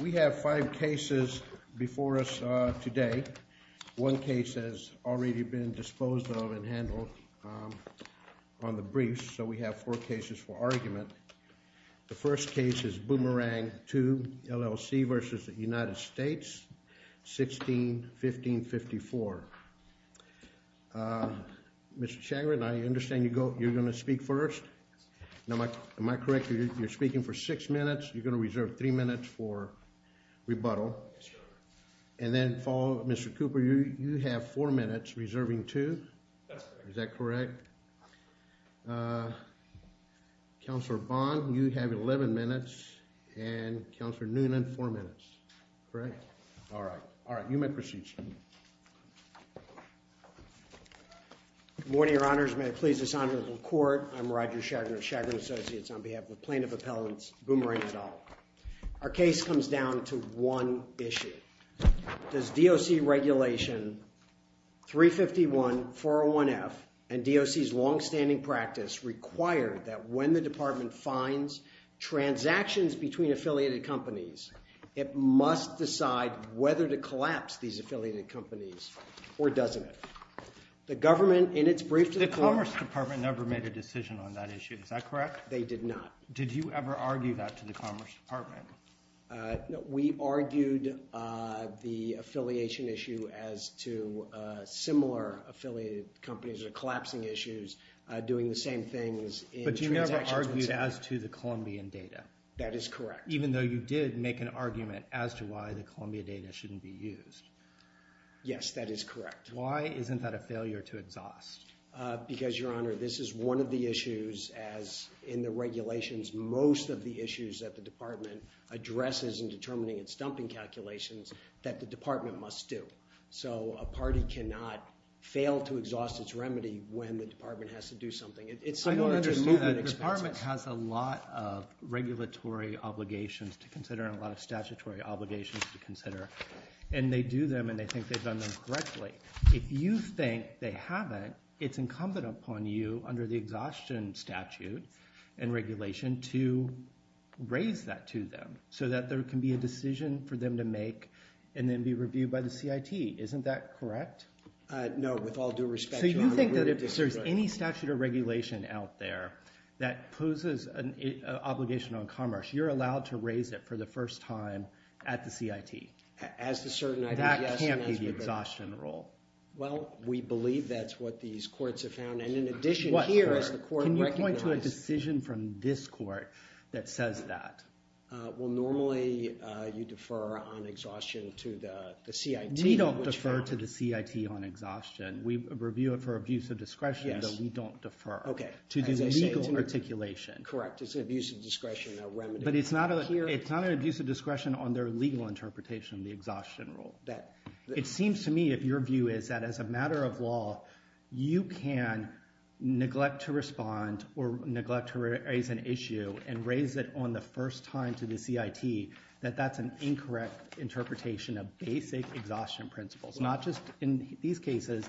We have five cases before us today. One case has already been disposed of and handled on the briefs. So we have four cases for argument. The first case is Boomerang Tube LLC v. United States, 16-1554. Mr. Chagrin, I understand you're going to speak first. Am I correct? You're speaking for six minutes. You're going to reserve three minutes for rebuttal. And then, Mr. Cooper, you have four minutes, reserving two. Is that correct? Counselor Bond, you have 11 minutes. And Counselor Noonan, four minutes. Correct? All right. You may proceed, sir. Good morning, Your Honors. May it please this honorable court, I'm Roger Chagrin of Chagrin Associates on behalf of Plaintiff Appellants Boomerang et al. Our case comes down to one issue. Does DOC Regulation 351-401F and DOC's longstanding practice require that when the department finds transactions between affiliated companies, it must decide whether to collapse these affiliated companies or doesn't it? The government, in its brief to the court- The Commerce Department never made a decision on that issue. Is that correct? They did not. Did you ever argue that to the Commerce Department? We argued the affiliation issue as to similar affiliated companies that are collapsing issues doing the same things in transactions- But you never argued as to the Colombian data. That is correct. Even though you did make an argument as to why the Colombian data shouldn't be used. Yes, that is correct. Why isn't that a failure to exhaust? Because, Your Honor, this is one of the issues, as in the regulations, most of the issues that the department addresses in determining its dumping calculations that the department must do. So a party cannot fail to exhaust its remedy when the department has to do something. I don't understand that. The department has a lot of regulatory obligations to consider and a lot of statutory obligations to consider, and they do them and they think they've done them correctly. If you think they haven't, it's incumbent upon you, under the exhaustion statute and regulation, to raise that to them so that there can be a decision for them to make and then be reviewed by the CIT. Isn't that correct? No, with all due respect, Your Honor, we disagree. I think that if there's any statute or regulation out there that poses an obligation on commerce, you're allowed to raise it for the first time at the CIT. As the certain I do, yes. That can't be the exhaustion rule. Well, we believe that's what these courts have found, and in addition here, as the court recognized. Can you point to a decision from this court that says that? Well, normally you defer on exhaustion to the CIT. We don't defer to the CIT on exhaustion. We review it for abuse of discretion, but we don't defer to the legal articulation. Correct. It's an abuse of discretion. But it's not an abuse of discretion on their legal interpretation of the exhaustion rule. It seems to me, if your view is that as a matter of law, you can neglect to respond or neglect to raise an issue and raise it on the first time to the CIT, that that's an incorrect interpretation of basic exhaustion principles. Not just in these cases,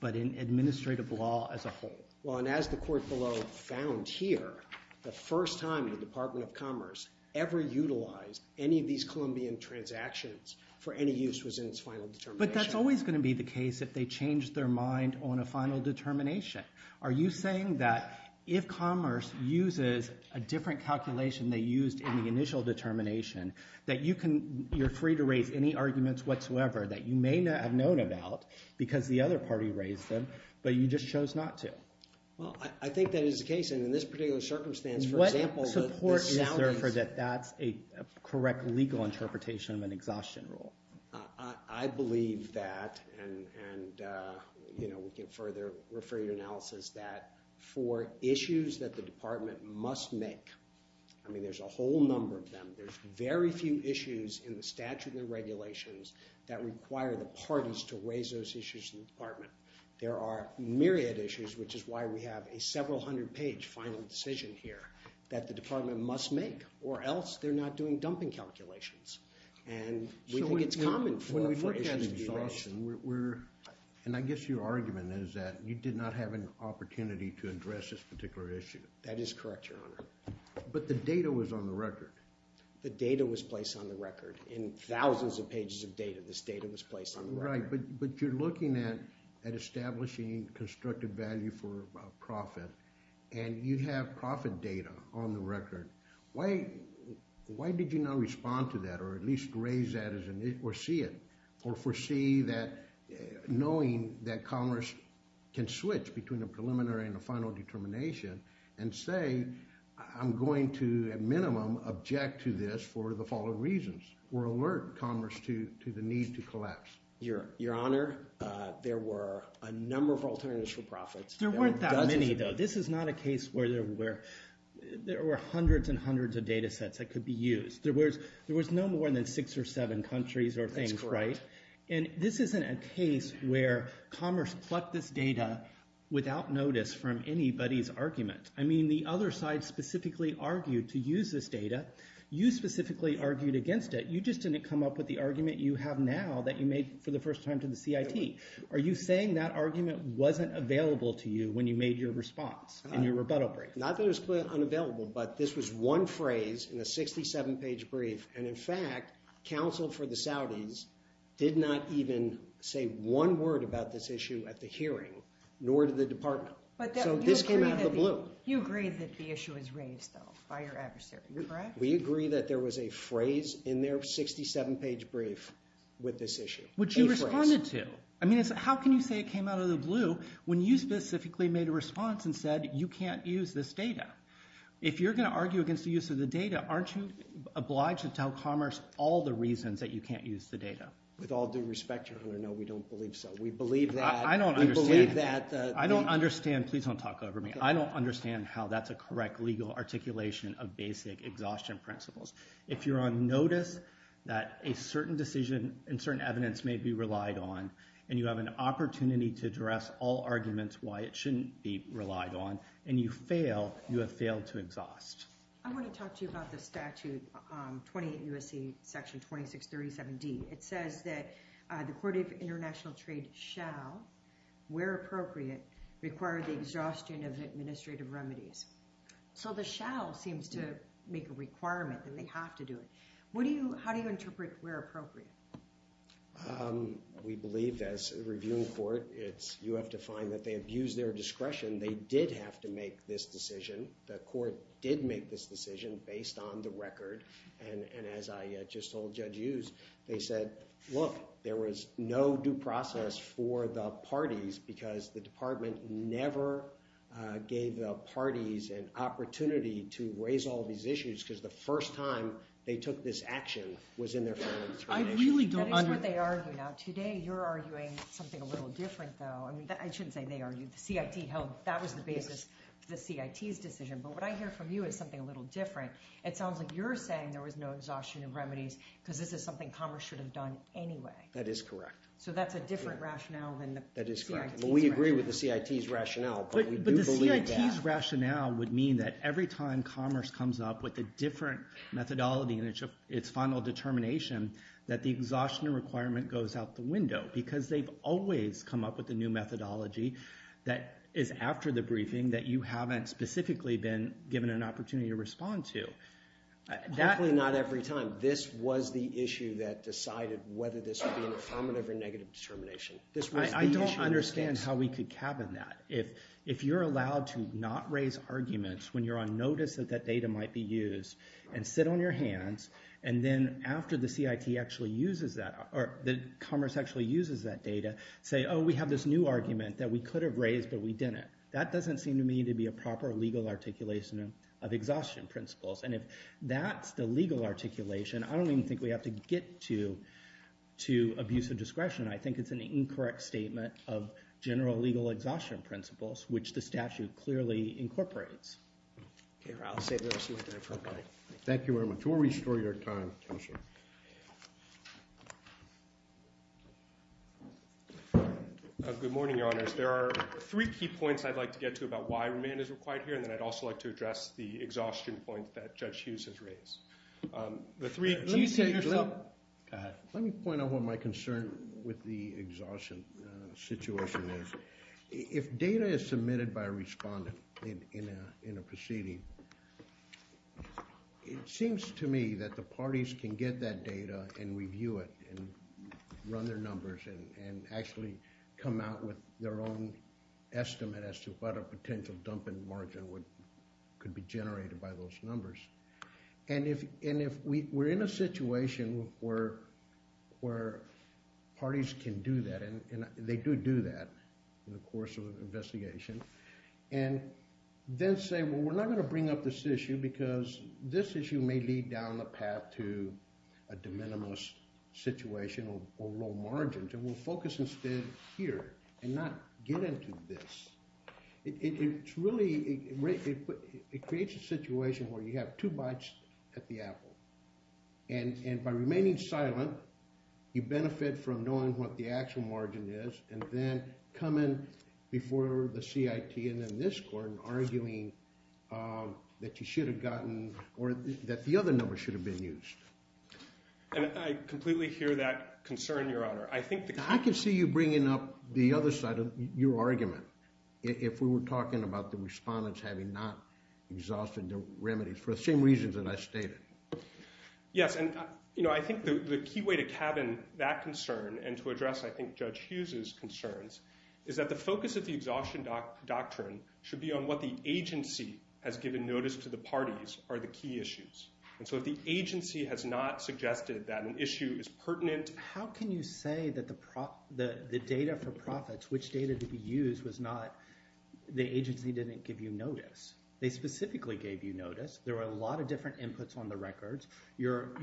but in administrative law as a whole. Well, and as the court below found here, the first time the Department of Commerce ever utilized any of these Columbian transactions for any use was in its final determination. But that's always going to be the case if they change their mind on a final determination. Are you saying that if commerce uses a different calculation they used in the initial determination, that you're free to raise any arguments whatsoever that you may not have known about because the other party raised them, but you just chose not to? Well, I think that is the case. And in this particular circumstance, for example, What support is there for that that's a correct legal interpretation of an exhaustion rule? I believe that, and we can further refer you to analysis, that for issues that the department must make, I mean, there's a whole number of them. There's very few issues in the statute and regulations that require the parties to raise those issues in the department. There are myriad issues, which is why we have a several hundred page final decision here that the department must make, or else they're not doing dumping calculations. And we think it's common for issues to be raised. And I guess your argument is that you did not have an opportunity to address this particular issue. That is correct, Your Honor. But the data was on the record. The data was placed on the record. In thousands of pages of data, this data was placed on the record. Right, but you're looking at establishing constructive value for profit, and you have profit data on the record. Why did you not respond to that or at least raise that or see it or foresee that knowing that Congress can switch between a preliminary and a final determination and say, I'm going to, at minimum, object to this for the following reasons. We're alert, Congress, to the need to collapse. Your Honor, there were a number of alternatives for profits. There weren't that many, though. This is not a case where there were hundreds and hundreds of data sets that could be used. There was no more than six or seven countries or things, right? That's correct. And this isn't a case where Congress plucked this data without notice from anybody's argument. I mean the other side specifically argued to use this data. You specifically argued against it. You just didn't come up with the argument you have now that you made for the first time to the CIT. Are you saying that argument wasn't available to you when you made your response in your rebuttal brief? Not that it was unavailable, but this was one phrase in a 67-page brief, and, in fact, counsel for the Saudis did not even say one word about this issue at the hearing, nor did the department, so this came out of the blue. You agree that the issue is raised, though, by your adversary, correct? We agree that there was a phrase in their 67-page brief with this issue. Which you responded to. I mean, how can you say it came out of the blue when you specifically made a response and said you can't use this data? If you're going to argue against the use of the data, aren't you obliged to tell Commerce all the reasons that you can't use the data? With all due respect, Your Honor, no, we don't believe so. We believe that. I don't understand. Please don't talk over me. I don't understand how that's a correct legal articulation of basic exhaustion principles. If you're on notice that a certain decision and certain evidence may be relied on and you have an opportunity to address all arguments why it shouldn't be relied on and you fail, you have failed to exhaust. I want to talk to you about the statute 28 U.S.C. Section 2637D. It says that the Court of International Trade shall, where appropriate, require the exhaustion of administrative remedies. So the shall seems to make a requirement, and they have to do it. How do you interpret where appropriate? We believe, as a reviewing court, you have to find that they abused their discretion. They did have to make this decision. The court did make this decision based on the record, and as I just told Judge Hughes, they said, look, there was no due process for the parties because the department never gave the parties an opportunity to raise all these issues because the first time they took this action was in their families. I really don't understand. That is what they argue. Now today you're arguing something a little different, though. I shouldn't say they argued. The CIT held that was the basis for the CIT's decision. But what I hear from you is something a little different. It sounds like you're saying there was no exhaustion of remedies because this is something commerce should have done anyway. That is correct. So that's a different rationale than the CIT's rationale. That is correct. We agree with the CIT's rationale, but we do believe that. But the CIT's rationale would mean that every time commerce comes up with a different methodology in its final determination, that the exhaustion requirement goes out the window because they've always come up with a new methodology that is after the briefing that you haven't specifically been given an opportunity to respond to. Hopefully not every time. This was the issue that decided whether this would be an affirmative or negative determination. I don't understand how we could cabin that. If you're allowed to not raise arguments when you're on notice that that data might be used and sit on your hands, and then after the commerce actually uses that data, say, oh, we have this new argument that we could have raised, but we didn't. That doesn't seem to me to be a proper legal articulation of exhaustion principles. And if that's the legal articulation, I don't even think we have to get to abuse of discretion. I think it's an incorrect statement of general legal exhaustion principles, which the statute clearly incorporates. I'll save the rest of it for Mike. Thank you very much. We'll restore your time, Counselor. Good morning, Your Honors. There are three key points I'd like to get to about why remand is required here, and then I'd also like to address the exhaustion point that Judge Hughes has raised. Let me point out what my concern with the exhaustion situation is. If data is submitted by a respondent in a proceeding, it seems to me that the parties can get that data and review it and run their numbers and actually come out with their own estimate as to what a potential dumping margin could be generated by those numbers. And if we're in a situation where parties can do that, and they do do that, in the course of an investigation, and then say, well, we're not going to bring up this issue because this issue may lead down the path to a de minimis situation or low margin, then we'll focus instead here and not get into this. It really creates a situation where you have two bites at the apple, and by remaining silent, you benefit from knowing what the actual margin is, and then coming before the CIT and then this court and arguing that you should have gotten or that the other number should have been used. And I completely hear that concern, Your Honor. I can see you bringing up the other side of your argument if we were talking about the respondents having not exhausted their remedies for the same reasons that I stated. Yes, and I think the key way to cabin that concern and to address, I think, Judge Hughes' concerns is that the focus of the exhaustion doctrine should be on what the agency has given notice to the parties are the key issues. And so if the agency has not suggested that an issue is pertinent How can you say that the data for profits, which data to be used, was not the agency didn't give you notice? They specifically gave you notice. There were a lot of different inputs on the records. Your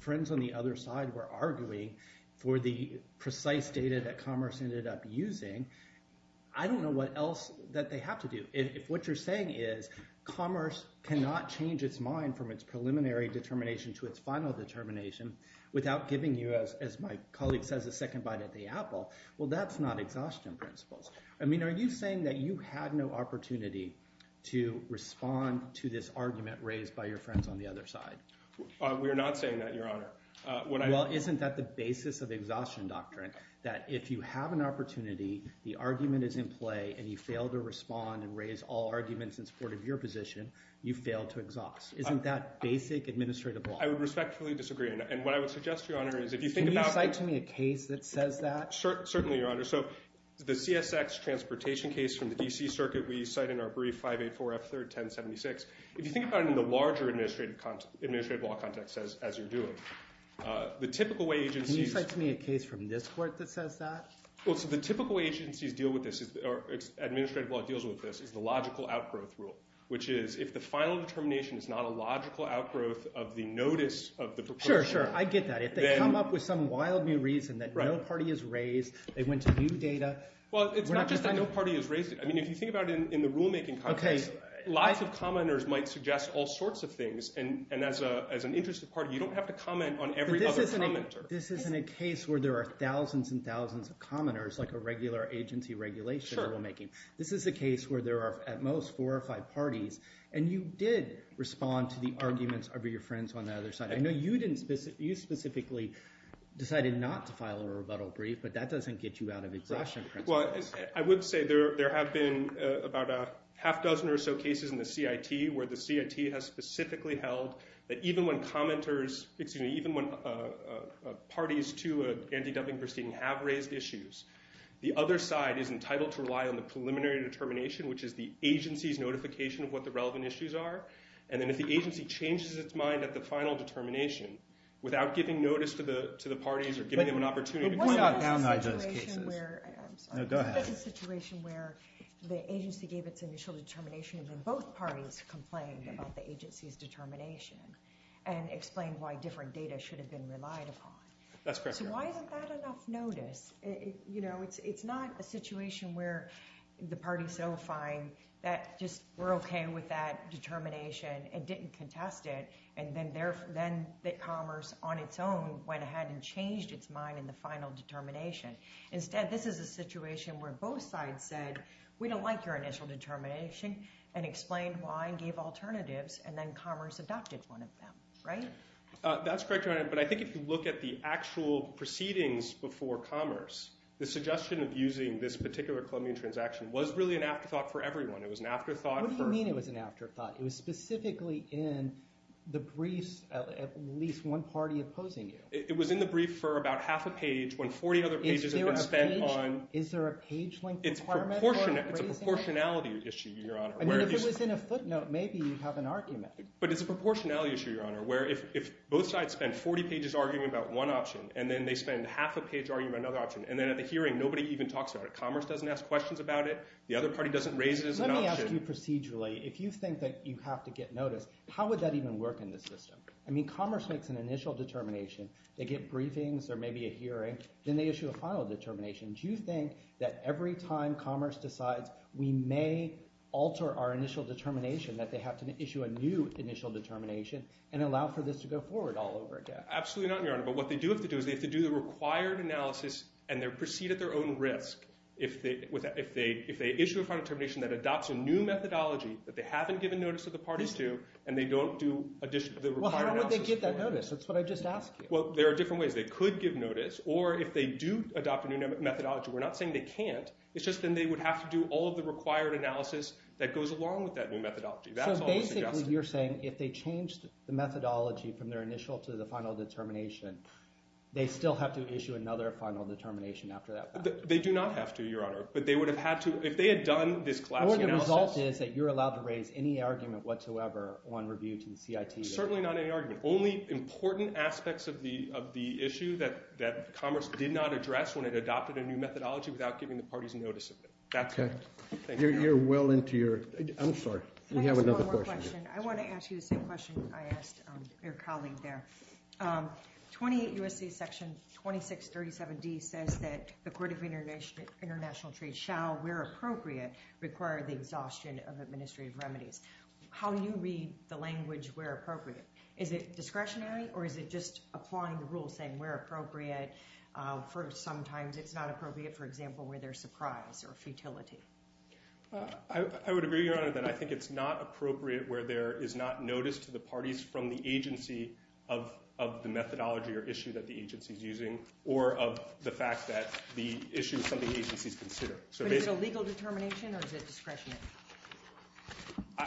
friends on the other side were arguing for the precise data that Commerce ended up using. I don't know what else that they have to do. If what you're saying is Commerce cannot change its mind from its preliminary determination to its final determination without giving you, as my colleague says, a second bite at the apple, well, that's not exhaustion principles. I mean, are you saying that you had no opportunity to respond to this argument raised by your friends on the other side? We are not saying that, Your Honor. Well, isn't that the basis of exhaustion doctrine? That if you have an opportunity, the argument is in play, and you fail to respond and raise all arguments in support of your position, you fail to exhaust. Isn't that basic administrative law? I would respectfully disagree. And what I would suggest, Your Honor, is if you think about Can you cite to me a case that says that? Certainly, Your Honor. So the CSX transportation case from the D.C. Circuit we cite in our brief 584 F. 3rd 1076. If you think about it in the larger administrative law context as you're doing it, the typical way agencies Can you cite to me a case from this court that says that? Well, so the typical way agencies deal with this or administrative law deals with this is the logical outgrowth rule, which is if the final determination is not a logical outgrowth of the notice of the proposal Sure, sure, I get that. If they come up with some wild new reason that no party is raised, they went to new data Well, it's not just that no party is raised. I mean, if you think about it in the rulemaking context, lots of commenters might suggest all sorts of things. And as an interested party, you don't have to comment on every other commenter. This isn't a case where there are thousands and thousands of commenters like a regular agency regulation rulemaking. This is a case where there are at most four or five parties. And you did respond to the arguments of your friends on the other side. I know you specifically decided not to file a rebuttal brief, but that doesn't get you out of exhaustion. Well, I would say there have been about a half dozen or so cases in the CIT where the CIT has specifically held that even when commenters, excuse me, even when parties to an anti-dumping proceeding have raised issues, the other side is entitled to rely on the preliminary determination, which is the agency's notification of what the relevant issues are. And then if the agency changes its mind at the final determination This is a situation where the agency gave its initial determination and then both parties complained about the agency's determination and explained why different data should have been relied upon. So why isn't that enough notice? It's not a situation where the party's so fine that just we're okay with that determination and didn't contest it, and then commerce on its own went ahead and changed its mind in the final determination. Instead, this is a situation where both sides said we don't like your initial determination and explained why and gave alternatives, and then commerce adopted one of them. That's correct, Your Honor, but I think if you look at the actual proceedings before commerce, the suggestion of using this particular Columbian transaction was really an afterthought for everyone. What do you mean it was an afterthought? It was specifically in the briefs of at least one party opposing you. It was in the brief for about half a page when 40 other pages had been spent on... Is there a page-length requirement? It's a proportionality issue, Your Honor. I mean, if it was in a footnote, maybe you'd have an argument. But it's a proportionality issue, Your Honor, where if both sides spend 40 pages arguing about one option and then they spend half a page arguing about another option, and then at the hearing nobody even talks about it. Commerce doesn't ask questions about it. The other party doesn't raise it as an option. Let me ask you procedurally. If you think that you have to get notice, how would that even work in this system? I mean, commerce makes an initial determination. They get briefings or maybe a hearing. Then they issue a final determination. Do you think that every time commerce decides we may alter our initial determination, that they have to issue a new initial determination and allow for this to go forward all over again? Absolutely not, Your Honor. But what they do have to do is they have to do the required analysis and proceed at their own risk if they issue a final determination that adopts a new methodology that they haven't given notice to the parties to and they don't do the required analysis. Well, how would they get that notice? That's what I just asked you. Well, there are different ways. They could give notice, or if they do adopt a new methodology. We're not saying they can't. It's just then they would have to do all of the required analysis that goes along with that new methodology. That's all I'm suggesting. So basically you're saying if they changed the methodology from their initial to the final determination, they still have to issue another final determination after that fact? They do not have to, Your Honor. But they would have had to if they had done this collapsing analysis. So the result is that you're allowed to raise any argument whatsoever on review to the CIT? Certainly not any argument. Only important aspects of the issue that Commerce did not address when it adopted a new methodology without giving the parties notice of it. That's it. Thank you. You're well into your – I'm sorry. We have another question. Can I ask one more question? I want to ask you the same question I asked your colleague there. 20 U.S.C. Section 2637D says that the Court of International Trade shall where appropriate require the exhaustion of administrative remedies. How do you read the language where appropriate? Is it discretionary or is it just applying the rules saying where appropriate for sometimes it's not appropriate, for example, where there's surprise or futility? I would agree, Your Honor, that I think it's not appropriate where there is not notice to the parties from the agency of the methodology or issue that the agency is using or of the fact that the issue is something the agency is considering. But is it a legal determination or is it discretionary?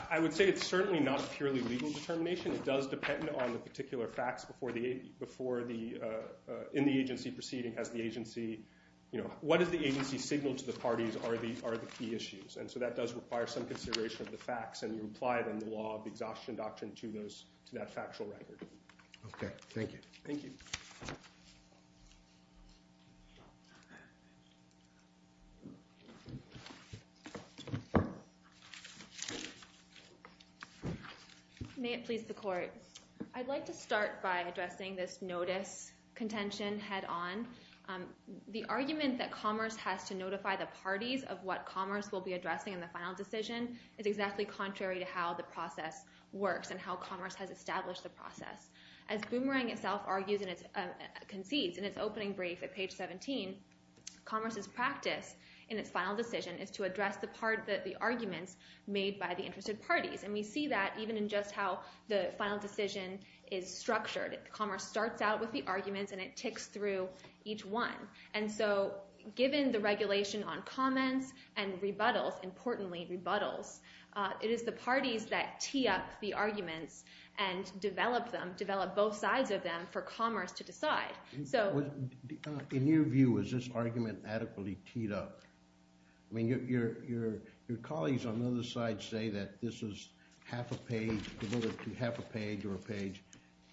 I would say it's certainly not a purely legal determination. It does depend on the particular facts before the – in the agency proceeding has the agency – what does the agency signal to the parties are the key issues. And so that does require some consideration of the facts and you apply it in the law of the exhaustion doctrine to that factual record. Okay. Thank you. Thank you. May it please the Court. I'd like to start by addressing this notice contention head on. The argument that Commerce has to notify the parties of what Commerce will be addressing in the final decision is exactly contrary to how the process works and how Commerce has established the process. As Boomerang itself argues and concedes in its opening brief at page 17, Commerce's practice in its final decision is to address the arguments made by the interested parties. And we see that even in just how the final decision is structured. Commerce starts out with the arguments and it ticks through each one. And so given the regulation on comments and rebuttals, importantly rebuttals, it is the parties that tee up the arguments and develop them, develop both sides of them for Commerce to decide. In your view, is this argument adequately teed up? I mean your colleagues on the other side say that this is half a page, half a page or a page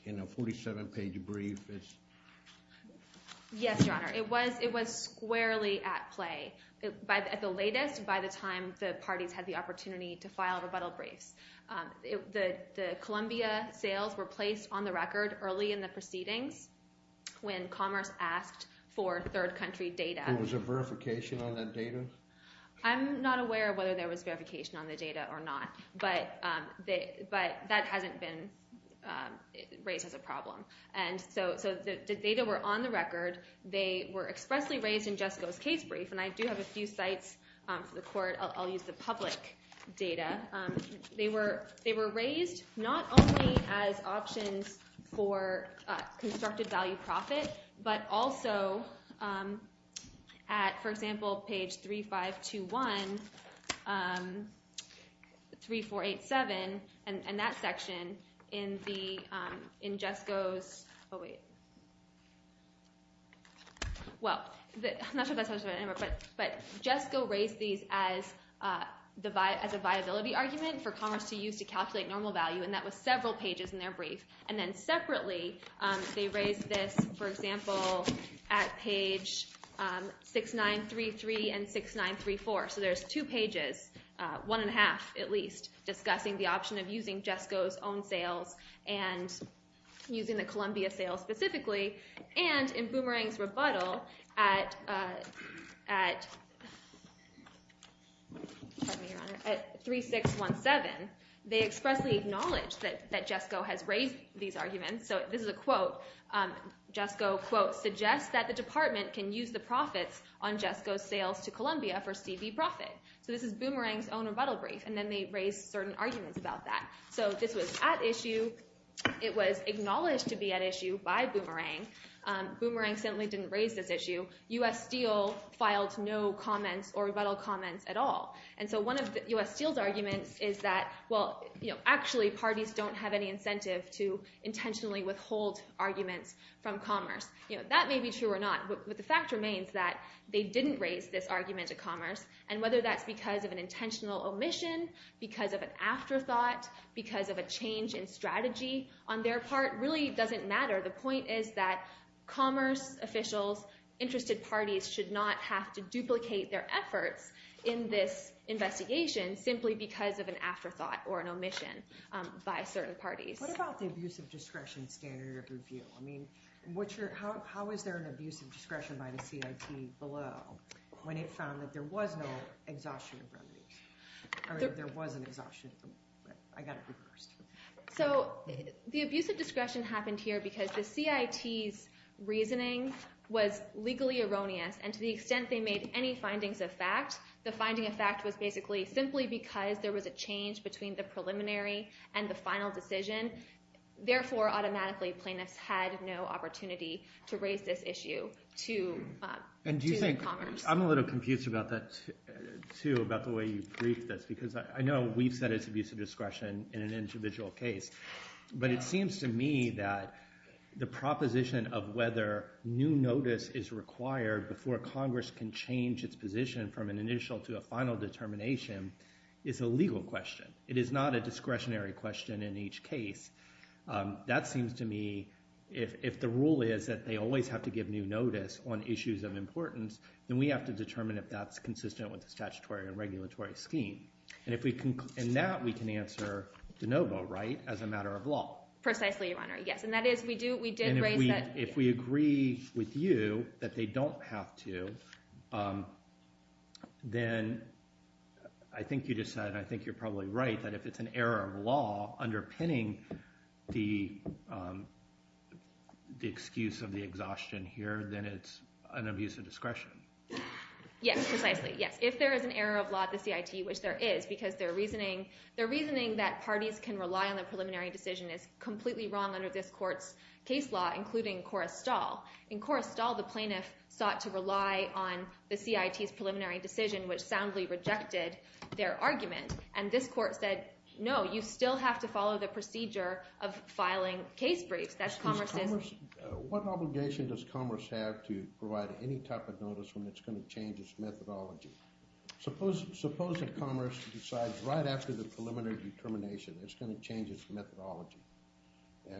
in a 47-page brief. Yes, Your Honor. It was squarely at play. At the latest, by the time the parties had the opportunity to file rebuttal briefs. The Columbia sales were placed on the record early in the proceedings when Commerce asked for third country data. Was there verification on that data? I'm not aware of whether there was verification on the data or not. But that hasn't been raised as a problem. And so the data were on the record. They were expressly raised in Jessica's case brief. And I do have a few sites for the court. I'll use the public data. They were raised not only as options for constructed value profit, but also at, for example, page 3521, 3487, and that section in Jessica's – oh, wait. Well, I'm not sure if that's what I remember. But Jessica raised these as a viability argument for Commerce to use to calculate normal value, and that was several pages in their brief. And then separately they raised this, for example, at page 6933 and 6934. So there's two pages, one and a half at least, discussing the option of using Jessica's own sales and using the Columbia sales specifically. And in Boomerang's rebuttal at 3617, they expressly acknowledged that Jessica has raised these arguments. So this is a quote. Jessica, quote, suggests that the department can use the profits on Jessica's sales to Columbia for CB profit. So this is Boomerang's own rebuttal brief. And then they raised certain arguments about that. So this was at issue. It was acknowledged to be at issue by Boomerang. Boomerang certainly didn't raise this issue. U.S. Steel filed no comments or rebuttal comments at all. And so one of U.S. Steel's arguments is that, well, actually parties don't have any incentive to intentionally withhold arguments from Commerce. That may be true or not, but the fact remains that they didn't raise this argument at Commerce, and whether that's because of an intentional omission, because of an afterthought, because of a change in strategy, on their part really doesn't matter. The point is that Commerce officials, interested parties, should not have to duplicate their efforts in this investigation simply because of an afterthought or an omission by certain parties. What about the abuse of discretion standard of review? I mean, how is there an abuse of discretion by the CIT below when it found that there was no exhaustion of revenues? There was an exhaustion, but I got it reversed. So the abuse of discretion happened here because the CIT's reasoning was legally erroneous, and to the extent they made any findings of fact, the finding of fact was basically simply because there was a change between the preliminary and the final decision. Therefore, automatically, plaintiffs had no opportunity to raise this issue to Commerce. I'm a little confused about that, too, about the way you briefed this, because I know we've said it's abuse of discretion in an individual case, but it seems to me that the proposition of whether new notice is required before Congress can change its position from an initial to a final determination is a legal question. It is not a discretionary question in each case. That seems to me, if the rule is that they always have to give new notice on issues of importance, then we have to determine if that's consistent with the statutory and regulatory scheme. And that we can answer de novo, right, as a matter of law. Precisely, Your Honor, yes, and that is we did raise that. And if we agree with you that they don't have to, then I think you just said, and I think you're probably right, that if it's an error of law underpinning the excuse of the exhaustion here, then it's an abuse of discretion. Yes, precisely, yes. If there is an error of law at the CIT, which there is, because their reasoning that parties can rely on the preliminary decision is completely wrong under this court's case law, including Korrestal. In Korrestal, the plaintiff sought to rely on the CIT's preliminary decision, which soundly rejected their argument. And this court said, no, you still have to follow the procedure of filing case briefs. What obligation does Congress have to provide any type of notice when it's going to change its methodology? Suppose that Commerce decides right after the preliminary determination it's going to change its methodology,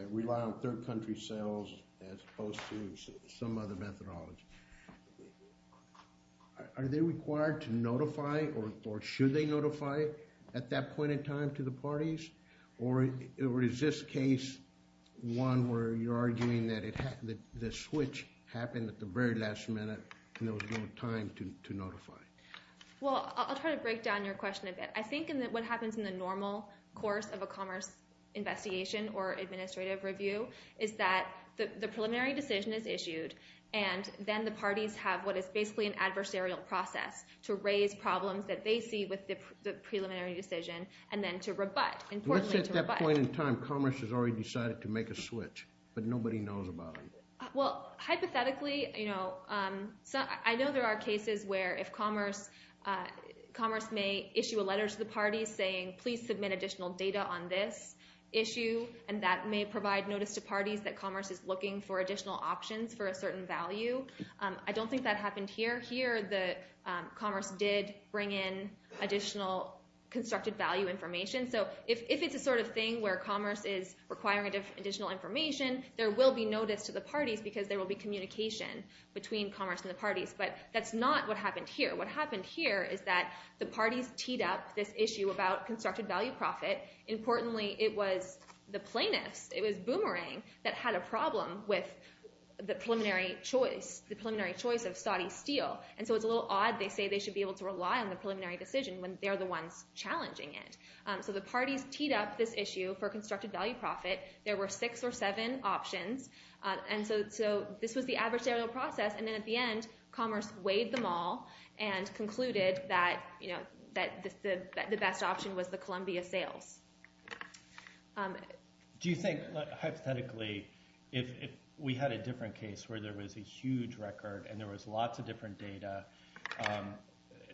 rely on third country sales as opposed to some other methodology. Are they required to notify or should they notify at that point in time to the parties? Or is this case one where you're arguing that the switch happened at the very last minute and there was no time to notify? Well, I'll try to break down your question a bit. I think what happens in the normal course of a Commerce investigation or administrative review is that the preliminary decision is issued and then the parties have what is basically an adversarial process to raise problems that they see with the preliminary decision and then to rebut, importantly to rebut. What's at that point in time Commerce has already decided to make a switch but nobody knows about it? Well, hypothetically, I know there are cases where if Commerce may issue a letter to the parties saying, please submit additional data on this issue and that may provide notice to parties that Commerce is looking for additional options for a certain value. I don't think that happened here. Here Commerce did bring in additional constructed value information. So if it's the sort of thing where Commerce is requiring additional information, there will be notice to the parties because there will be communication between Commerce and the parties. But that's not what happened here. What happened here is that the parties teed up this issue about constructed value profit. Importantly, it was the plaintiffs, it was Boomerang that had a problem with the preliminary choice of Saudi steel. And so it's a little odd. They say they should be able to rely on the preliminary decision when they're the ones challenging it. So the parties teed up this issue for constructed value profit. There were six or seven options. And so this was the adversarial process. And then at the end Commerce weighed them all and concluded that the best option was the Columbia sales. Do you think hypothetically if we had a different case where there was a huge record and there was lots of different data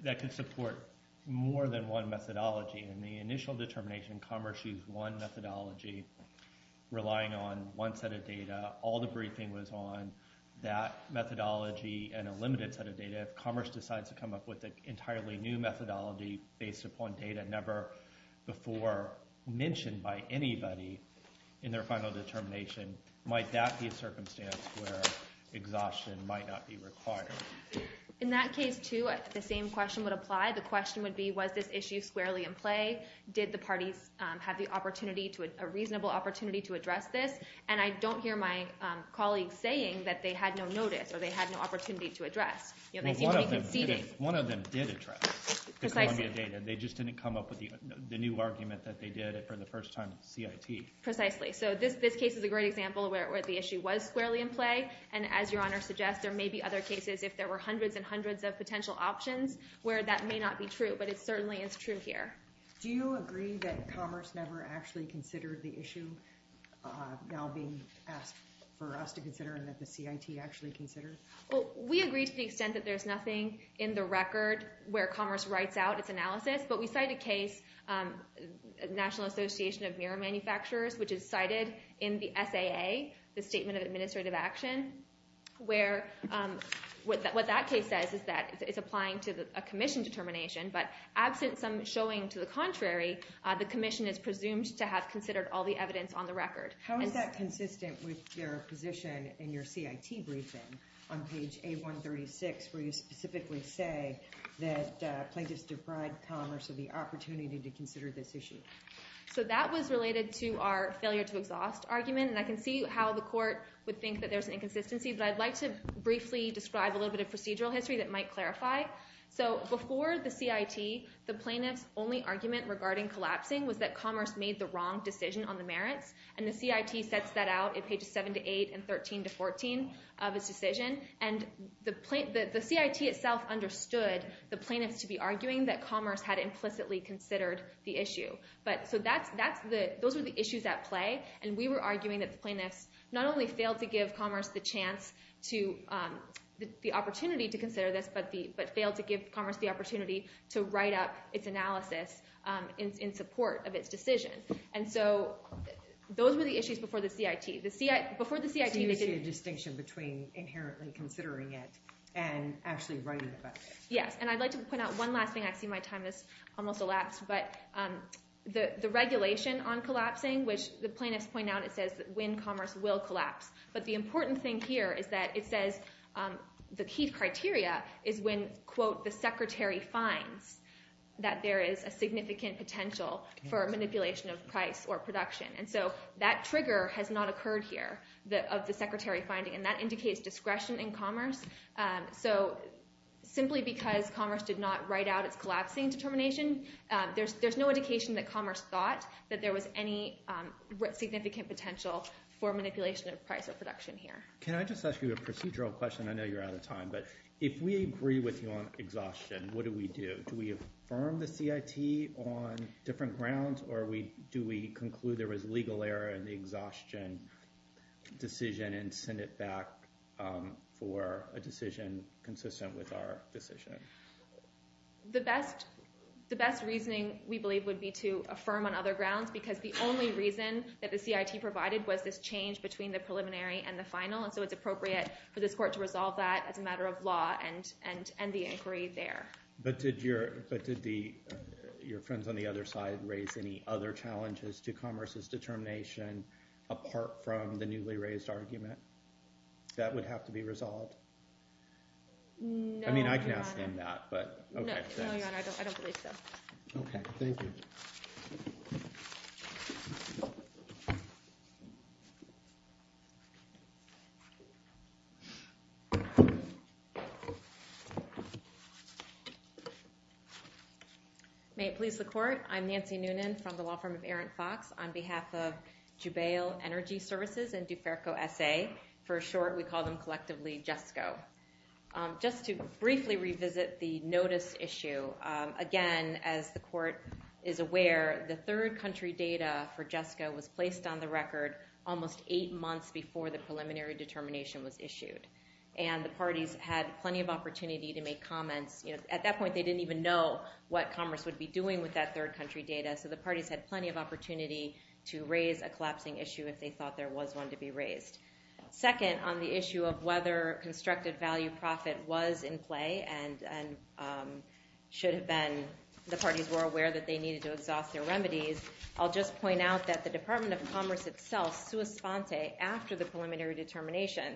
that could support more than one methodology and the initial determination Commerce used one methodology relying on one set of data, all the briefing was on that methodology and a limited set of data. If Commerce decides to come up with an entirely new methodology based upon data never before mentioned by anybody in their final determination, might that be a circumstance where exhaustion might not be required? In that case, too, the same question would apply. The question would be was this issue squarely in play? Did the parties have a reasonable opportunity to address this? And I don't hear my colleagues saying that they had no notice or they had no opportunity to address. One of them did address the Columbia data. They just didn't come up with the new argument that they did it for the first time at CIT. Precisely. So this case is a great example where the issue was squarely in play. And as Your Honor suggests, there may be other cases if there were hundreds and hundreds of potential options where that may not be true, but it certainly is true here. Do you agree that Commerce never actually considered the issue now being asked for us to consider and that the CIT actually considered? We agree to the extent that there's nothing in the record where Commerce writes out its analysis, but we cite a case, National Association of Mirror Manufacturers, which is cited in the SAA, the Statement of Administrative Action, where what that case says is that it's applying to a commission determination, but absent some showing to the contrary, the commission is presumed to have considered all the evidence on the record. How is that consistent with your position in your CIT briefing on page A136 where you specifically say that plaintiffs defried Commerce of the opportunity to consider this issue? So that was related to our failure to exhaust argument, and I can see how the court would think that there's an inconsistency, but I'd like to briefly describe a little bit of procedural history that might clarify. So before the CIT, the plaintiff's only argument regarding collapsing was that Commerce made the wrong decision on the merits, and the CIT sets that out in pages 7 to 8 and 13 to 14 of its decision, and the CIT itself understood the plaintiffs to be arguing that Commerce had implicitly considered the issue. So those were the issues at play, and we were arguing that the plaintiffs not only failed to give Commerce the opportunity to consider this, but failed to give Commerce the opportunity to write up its analysis in support of its decision. And so those were the issues before the CIT. Before the CIT, they didn't... So you see a distinction between inherently considering it and actually writing about it. Yes, and I'd like to point out one last thing. I see my time has almost elapsed. But the regulation on collapsing, which the plaintiffs point out, it says that when Commerce will collapse. But the important thing here is that it says the key criteria is when, quote, the secretary finds that there is a significant potential for manipulation of price or production. And so that trigger has not occurred here of the secretary finding, and that indicates discretion in Commerce. So simply because Commerce did not write out its collapsing determination, there's no indication that Commerce thought that there was any significant potential for manipulation of price or production here. Can I just ask you a procedural question? I know you're out of time, but if we agree with you on exhaustion, what do we do? Do we affirm the CIT on different grounds, or do we conclude there was legal error in the exhaustion decision and send it back for a decision consistent with our decision? The best reasoning, we believe, would be to affirm on other grounds because the only reason that the CIT provided was this change between the preliminary and the final. And so it's appropriate for this court to resolve that as a matter of law and end the inquiry there. But did your friends on the other side raise any other challenges to Commerce's determination apart from the newly raised argument that would have to be resolved? No, Your Honor. I mean, I can ask them that, but okay. No, Your Honor, I don't believe so. Okay. Thank you. May it please the Court. I'm Nancy Noonan from the law firm of Arendt-Fox. On behalf of Jubail Energy Services and Duferco S.A., for short, we call them collectively JESCO. Just to briefly revisit the notice issue, again, as the Court is aware, the third country data for JESCO was placed on the record almost eight months before the preliminary determination was issued. And the parties had plenty of opportunity to make comments because at that point they didn't even know what Commerce would be doing with that third country data. So the parties had plenty of opportunity to raise a collapsing issue if they thought there was one to be raised. Second, on the issue of whether constructed value profit was in play and should have been, the parties were aware that they needed to exhaust their remedies, I'll just point out that the Department of Commerce itself, sua sponte, after the preliminary determination,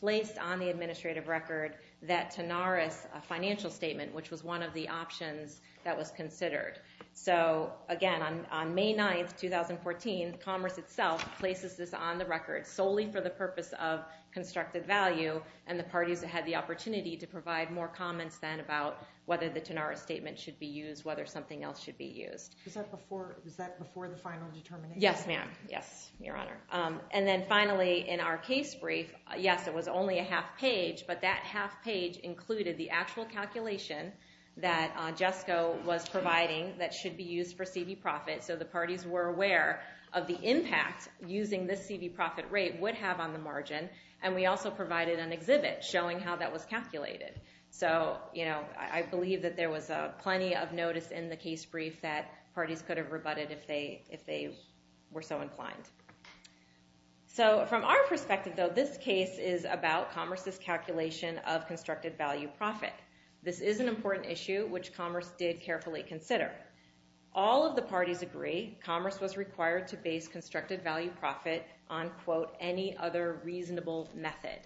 placed on the administrative record that Tanaris, a financial statement, which was one of the options that was considered. So, again, on May 9th, 2014, Commerce itself places this on the record solely for the purpose of constructed value, and the parties had the opportunity to provide more comments then about whether the Tanaris statement should be used, whether something else should be used. Was that before the final determination? Yes, ma'am. Yes, Your Honor. And then, finally, in our case brief, yes, it was only a half page, but that half page included the actual calculation that JESCO was providing that should be used for C.V. profit. So the parties were aware of the impact using this C.V. profit rate would have on the margin, and we also provided an exhibit showing how that was calculated. So, you know, I believe that there was plenty of notice in the case brief that parties could have rebutted if they were so inclined. So, from our perspective, though, this case is about Commerce's calculation of constructed value profit. This is an important issue which Commerce did carefully consider. All of the parties agree Commerce was required to base constructed value profit on, quote, any other reasonable method.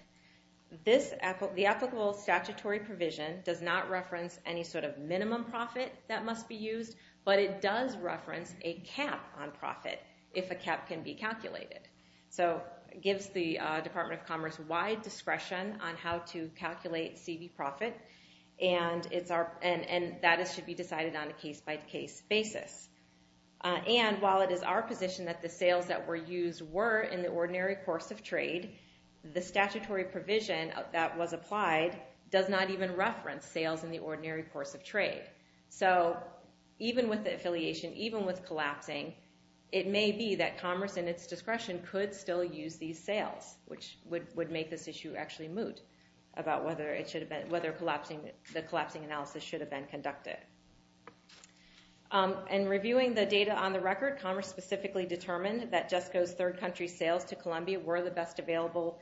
The applicable statutory provision does not reference any sort of minimum profit that must be used, but it does reference a cap on profit if a cap can be calculated. So it gives the Department of Commerce wide discretion on how to calculate C.V. profit, and that should be decided on a case-by-case basis. And while it is our position that the sales that were used were in the ordinary course of trade, the statutory provision that was applied does not even reference sales in the ordinary course of trade. So even with the affiliation, even with collapsing, it may be that Commerce in its discretion could still use these sales, which would make this issue actually moot about whether the collapsing analysis should have been conducted. In reviewing the data on the record, Commerce specifically determined that JESCO's third-country sales to Columbia were the best available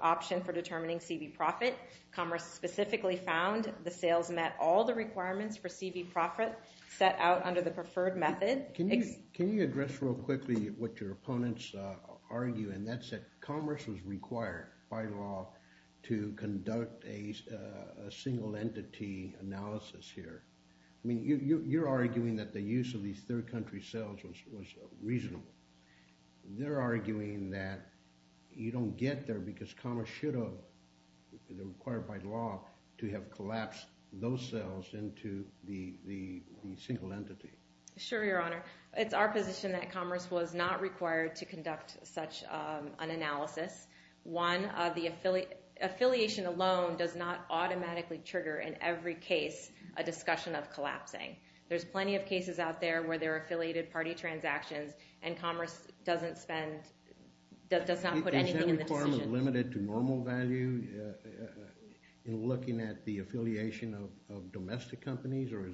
option for determining C.V. profit. Commerce specifically found the sales met all the requirements for C.V. profit set out under the preferred method. Can you address real quickly what your opponents argue, and that's that Commerce was required by law to conduct a single-entity analysis here. I mean, you're arguing that the use of these third-country sales was reasonable. They're arguing that you don't get there because Commerce should have, required by law, to have collapsed those sales into the single entity. Sure, Your Honor. It's our position that Commerce was not required to conduct such an analysis. One, the affiliation alone does not automatically trigger in every case a discussion of collapsing. There's plenty of cases out there where there are affiliated party transactions and Commerce doesn't spend, does not put anything in the decision. Is that requirement limited to normal value in looking at the affiliation of domestic companies, or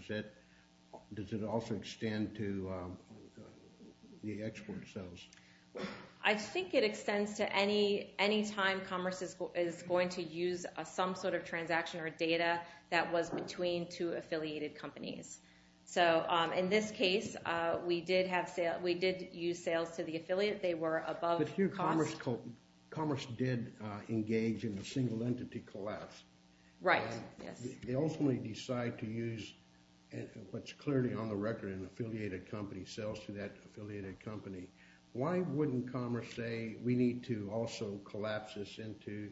does it also extend to the export sales? I think it extends to any time Commerce is going to use some sort of transaction or data that was between two affiliated companies. In this case, we did use sales to the affiliate. They were above cost. But here Commerce did engage in a single-entity collapse. Right, yes. They ultimately decide to use what's clearly on the record an affiliated company, sales to that affiliated company. Why wouldn't Commerce say we need to also collapse this into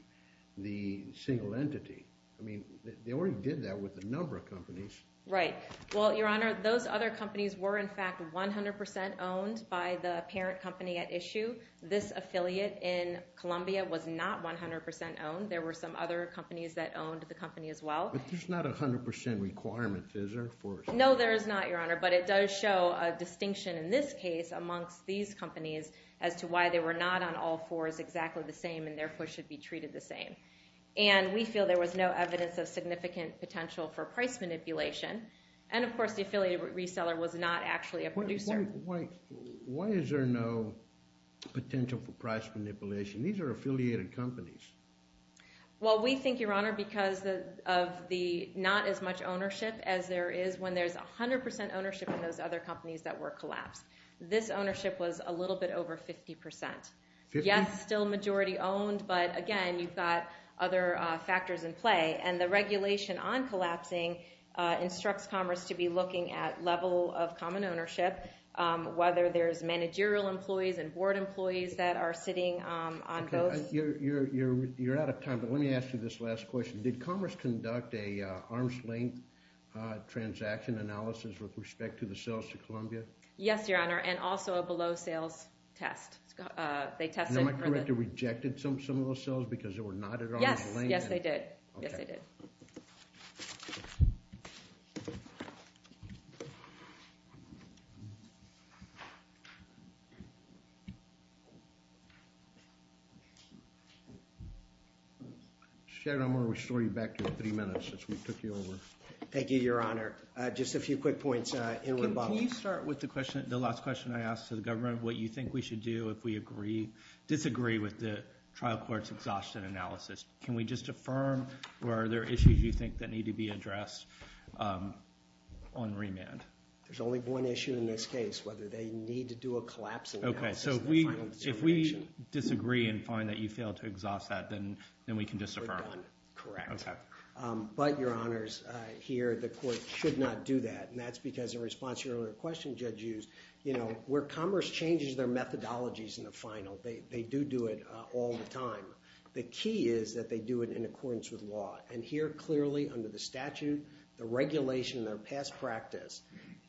the single entity? I mean, they already did that with a number of companies. Right. Well, Your Honor, those other companies were, in fact, 100% owned by the parent company at issue. This affiliate in Columbia was not 100% owned. There were some other companies that owned the company as well. But there's not a 100% requirement. Is there? No, there is not, Your Honor. But it does show a distinction in this case amongst these companies as to why they were not on all fours exactly the same and therefore should be treated the same. And we feel there was no evidence of significant potential for price manipulation. And, of course, the affiliated reseller was not actually a producer. Why is there no potential for price manipulation? These are affiliated companies. Well, we think, Your Honor, because of the not as much ownership as there is when there's 100% ownership in those other companies that were collapsed. This ownership was a little bit over 50%. Fifty? Yes, still majority owned. But, again, you've got other factors in play. And the regulation on collapsing instructs commerce to be looking at level of common ownership, whether there's managerial employees and board employees that are sitting on both. You're out of time, but let me ask you this last question. Did commerce conduct an arm's length transaction analysis with respect to the sales to Columbia? Yes, Your Honor, and also a below sales test. And am I correct to reject some of those sales because they were not at arm's length? Yes, they did. Sharon, I'm going to restore you back to three minutes since we took you over. Thank you, Your Honor. Just a few quick points in rebuttal. Can you start with the last question I asked to the government, what you think we should do if we disagree with the trial court's exhaustion analysis? Can we just affirm, or are there issues you think that need to be addressed on remand? There's only one issue in this case, whether they need to do a collapsing analysis. Okay, so if we disagree and find that you failed to exhaust that, then we can disaffirm it. Correct. Okay. But, Your Honors, here the court should not do that, and that's because in response to your earlier question, Judge Hughes, you know, where commerce changes their methodologies in the final, they do do it all the time. The key is that they do it in accordance with law. And here, clearly, under the statute, the regulation, their past practice,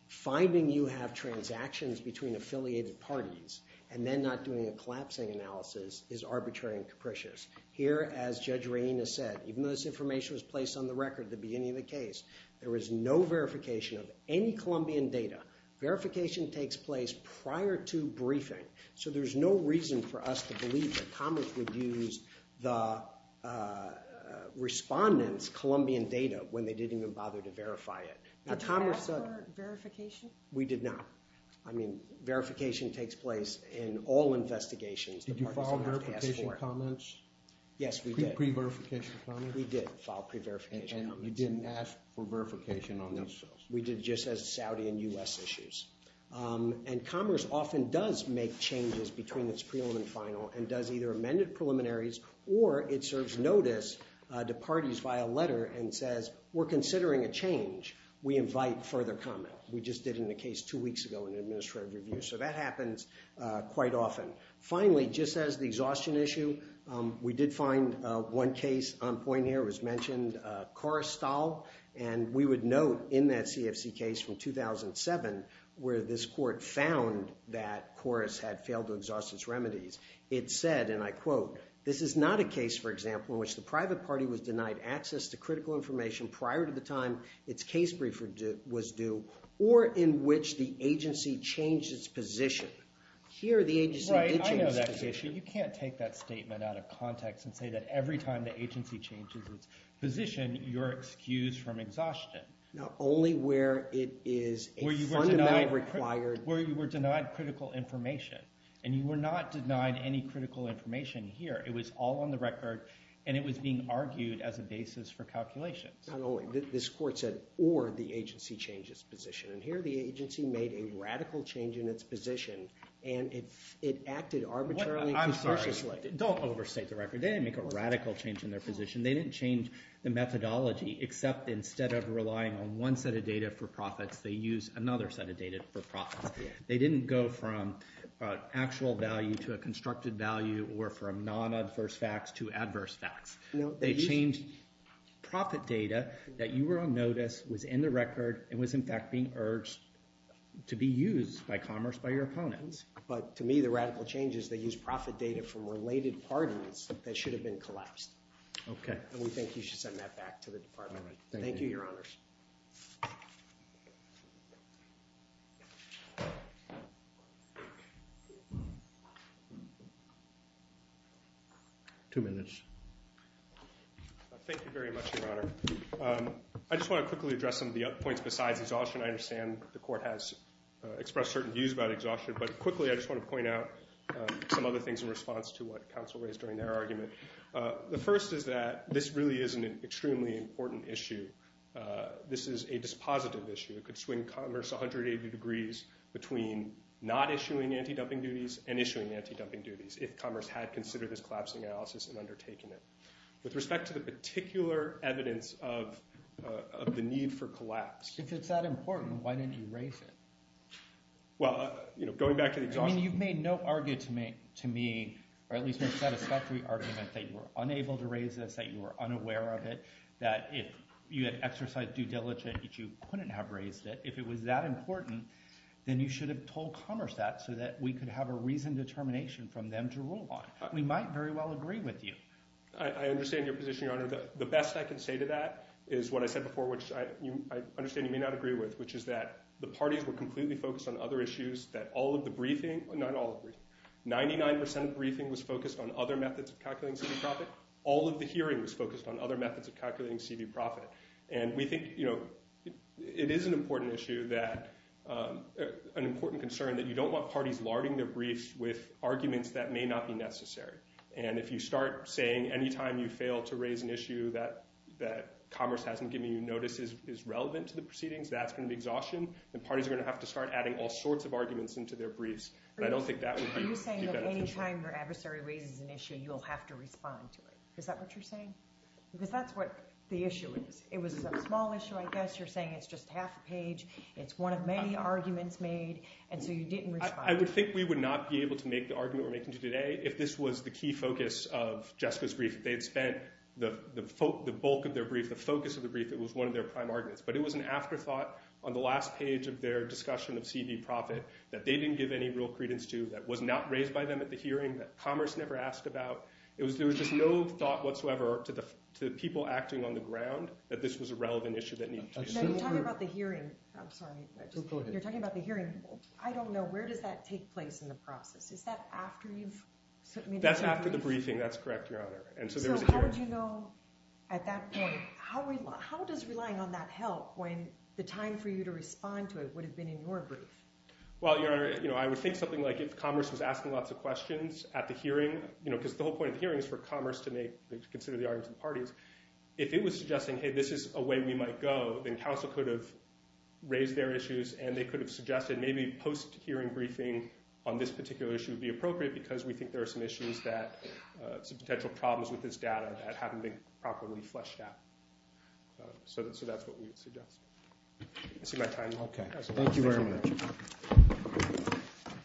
finding you have transactions between affiliated parties and then not doing a collapsing analysis is arbitrary and capricious. Here, as Judge Reina said, even though this information was placed on the record at the beginning of the case, there was no verification of any Columbian data. Verification takes place prior to briefing. So there's no reason for us to believe that commerce would use the respondents' Columbian data when they didn't even bother to verify it. Did you ask for verification? We did not. I mean, verification takes place in all investigations. Did you file verification comments? Yes, we did. Pre-verification comments? We did file pre-verification comments. And you didn't ask for verification on those? We did just as a Saudi and U.S. issues. And commerce often does make changes between its prelim and final and does either amended preliminaries or it serves notice to parties via letter and says, we're considering a change. We invite further comment. We just did in the case two weeks ago in an administrative review. So that happens quite often. Finally, just as the exhaustion issue, we did find one case on point here. It was mentioned Korrestal. And we would note in that CFC case from 2007 where this court found that Korrest had failed to exhaust its remedies, it said, and I quote, this is not a case, for example, in which the private party was denied access to critical information prior to the time its case briefer was due or in which the agency changed its position. Here, the agency did change its position. Right, I know that issue. You can't take that statement out of context and say that every time the agency changes its position, you're excused from exhaustion. Not only where it is a fundamentally required... Where you were denied critical information. And you were not denied any critical information here. It was all on the record and it was being argued as a basis for calculations. Not only. This court said, or the agency change its position. And here, the agency made a radical change in its position and it acted arbitrarily and cautiously. I'm sorry. Don't overstate the record. They didn't make a radical change in their position. They didn't change the methodology, except instead of relying on one set of data for profits, they used another set of data for profits. They didn't go from actual value to a constructed value or from non-adverse facts to adverse facts. They changed profit data that you were on notice, was in the record, and was in fact being urged to be used by commerce, by your opponents. But to me, the radical change is they used profit data from related parties that should have been collapsed. Okay. And we think you should send that back to the department. Thank you, Your Honor. Two minutes. Thank you very much, Your Honor. I just want to quickly address some of the points besides exhaustion. I understand the court has expressed certain views about exhaustion, but quickly I just want to point out some other things in response to what counsel raised during their argument. The first is that this really isn't an extremely important issue. This is a dispositive issue. It could swing commerce 180 degrees between not issuing anti-dumping duties and issuing anti-dumping duties, if commerce had considered this collapsing analysis and undertaken it. With respect to the particular evidence of the need for collapse... If it's that important, why didn't you raise it? Well, you know, going back to the exhaustion... I mean, you've made no argument to me, or at least no satisfactory argument, that you were unable to raise this, that you were unaware of it, that if you had exercised due diligence, that you couldn't have raised it. If it was that important, then you should have told commerce that so that we could have a reasoned determination from them to rule on. We might very well agree with you. I understand your position, Your Honor. The best I can say to that is what I said before, which I understand you may not agree with, which is that the parties were completely focused on other issues, that all of the briefing... Not all of the briefing. 99% of the briefing was focused on other methods of calculating C.V. profit. All of the hearing was focused on other methods of calculating C.V. profit. And we think, you know, it is an important issue that... an important concern that you don't want parties larding their briefs with arguments that may not be necessary. And if you start saying, any time you fail to raise an issue that commerce hasn't given you notice is relevant to the proceedings, that's going to be exhaustion, and parties are going to have to start adding all sorts of arguments into their briefs. And I don't think that would be beneficial. Are you saying that any time your adversary raises an issue, you'll have to respond to it? Is that what you're saying? Because that's what the issue is. It was a small issue, I guess. You're saying it's just half a page. It's one of many arguments made. And so you didn't respond. I would think we would not be able to make the argument we're making today if this was the key focus of Jessica's brief. If they had spent the bulk of their brief, the focus of the brief, it was one of their prime arguments. But it was an afterthought on the last page of their discussion of C.B. Profitt that they didn't give any real credence to, that was not raised by them at the hearing, that commerce never asked about. There was just no thought whatsoever to the people acting on the ground that this was a relevant issue that needed to be... Now, you're talking about the hearing. I'm sorry. Go ahead. You're talking about the hearing. I don't know. Where does that take place in the process? Is that after you've... That's after the briefing. That's correct, Your Honor. So how would you know at that point? How does relying on that help when the time for you to respond to it would have been in your brief? Well, Your Honor, I would think something like if commerce was asking lots of questions at the hearing, because the whole point of the hearing is for commerce to consider the arguments of the parties. If it was suggesting, hey, this is a way we might go, then counsel could have raised their issues and they could have suggested maybe post-hearing briefing on this particular issue would be appropriate because we think there are some issues that... some potential problems with this data that haven't been properly fleshed out. So that's what we would suggest. Is that my time? Okay. Thank you very much.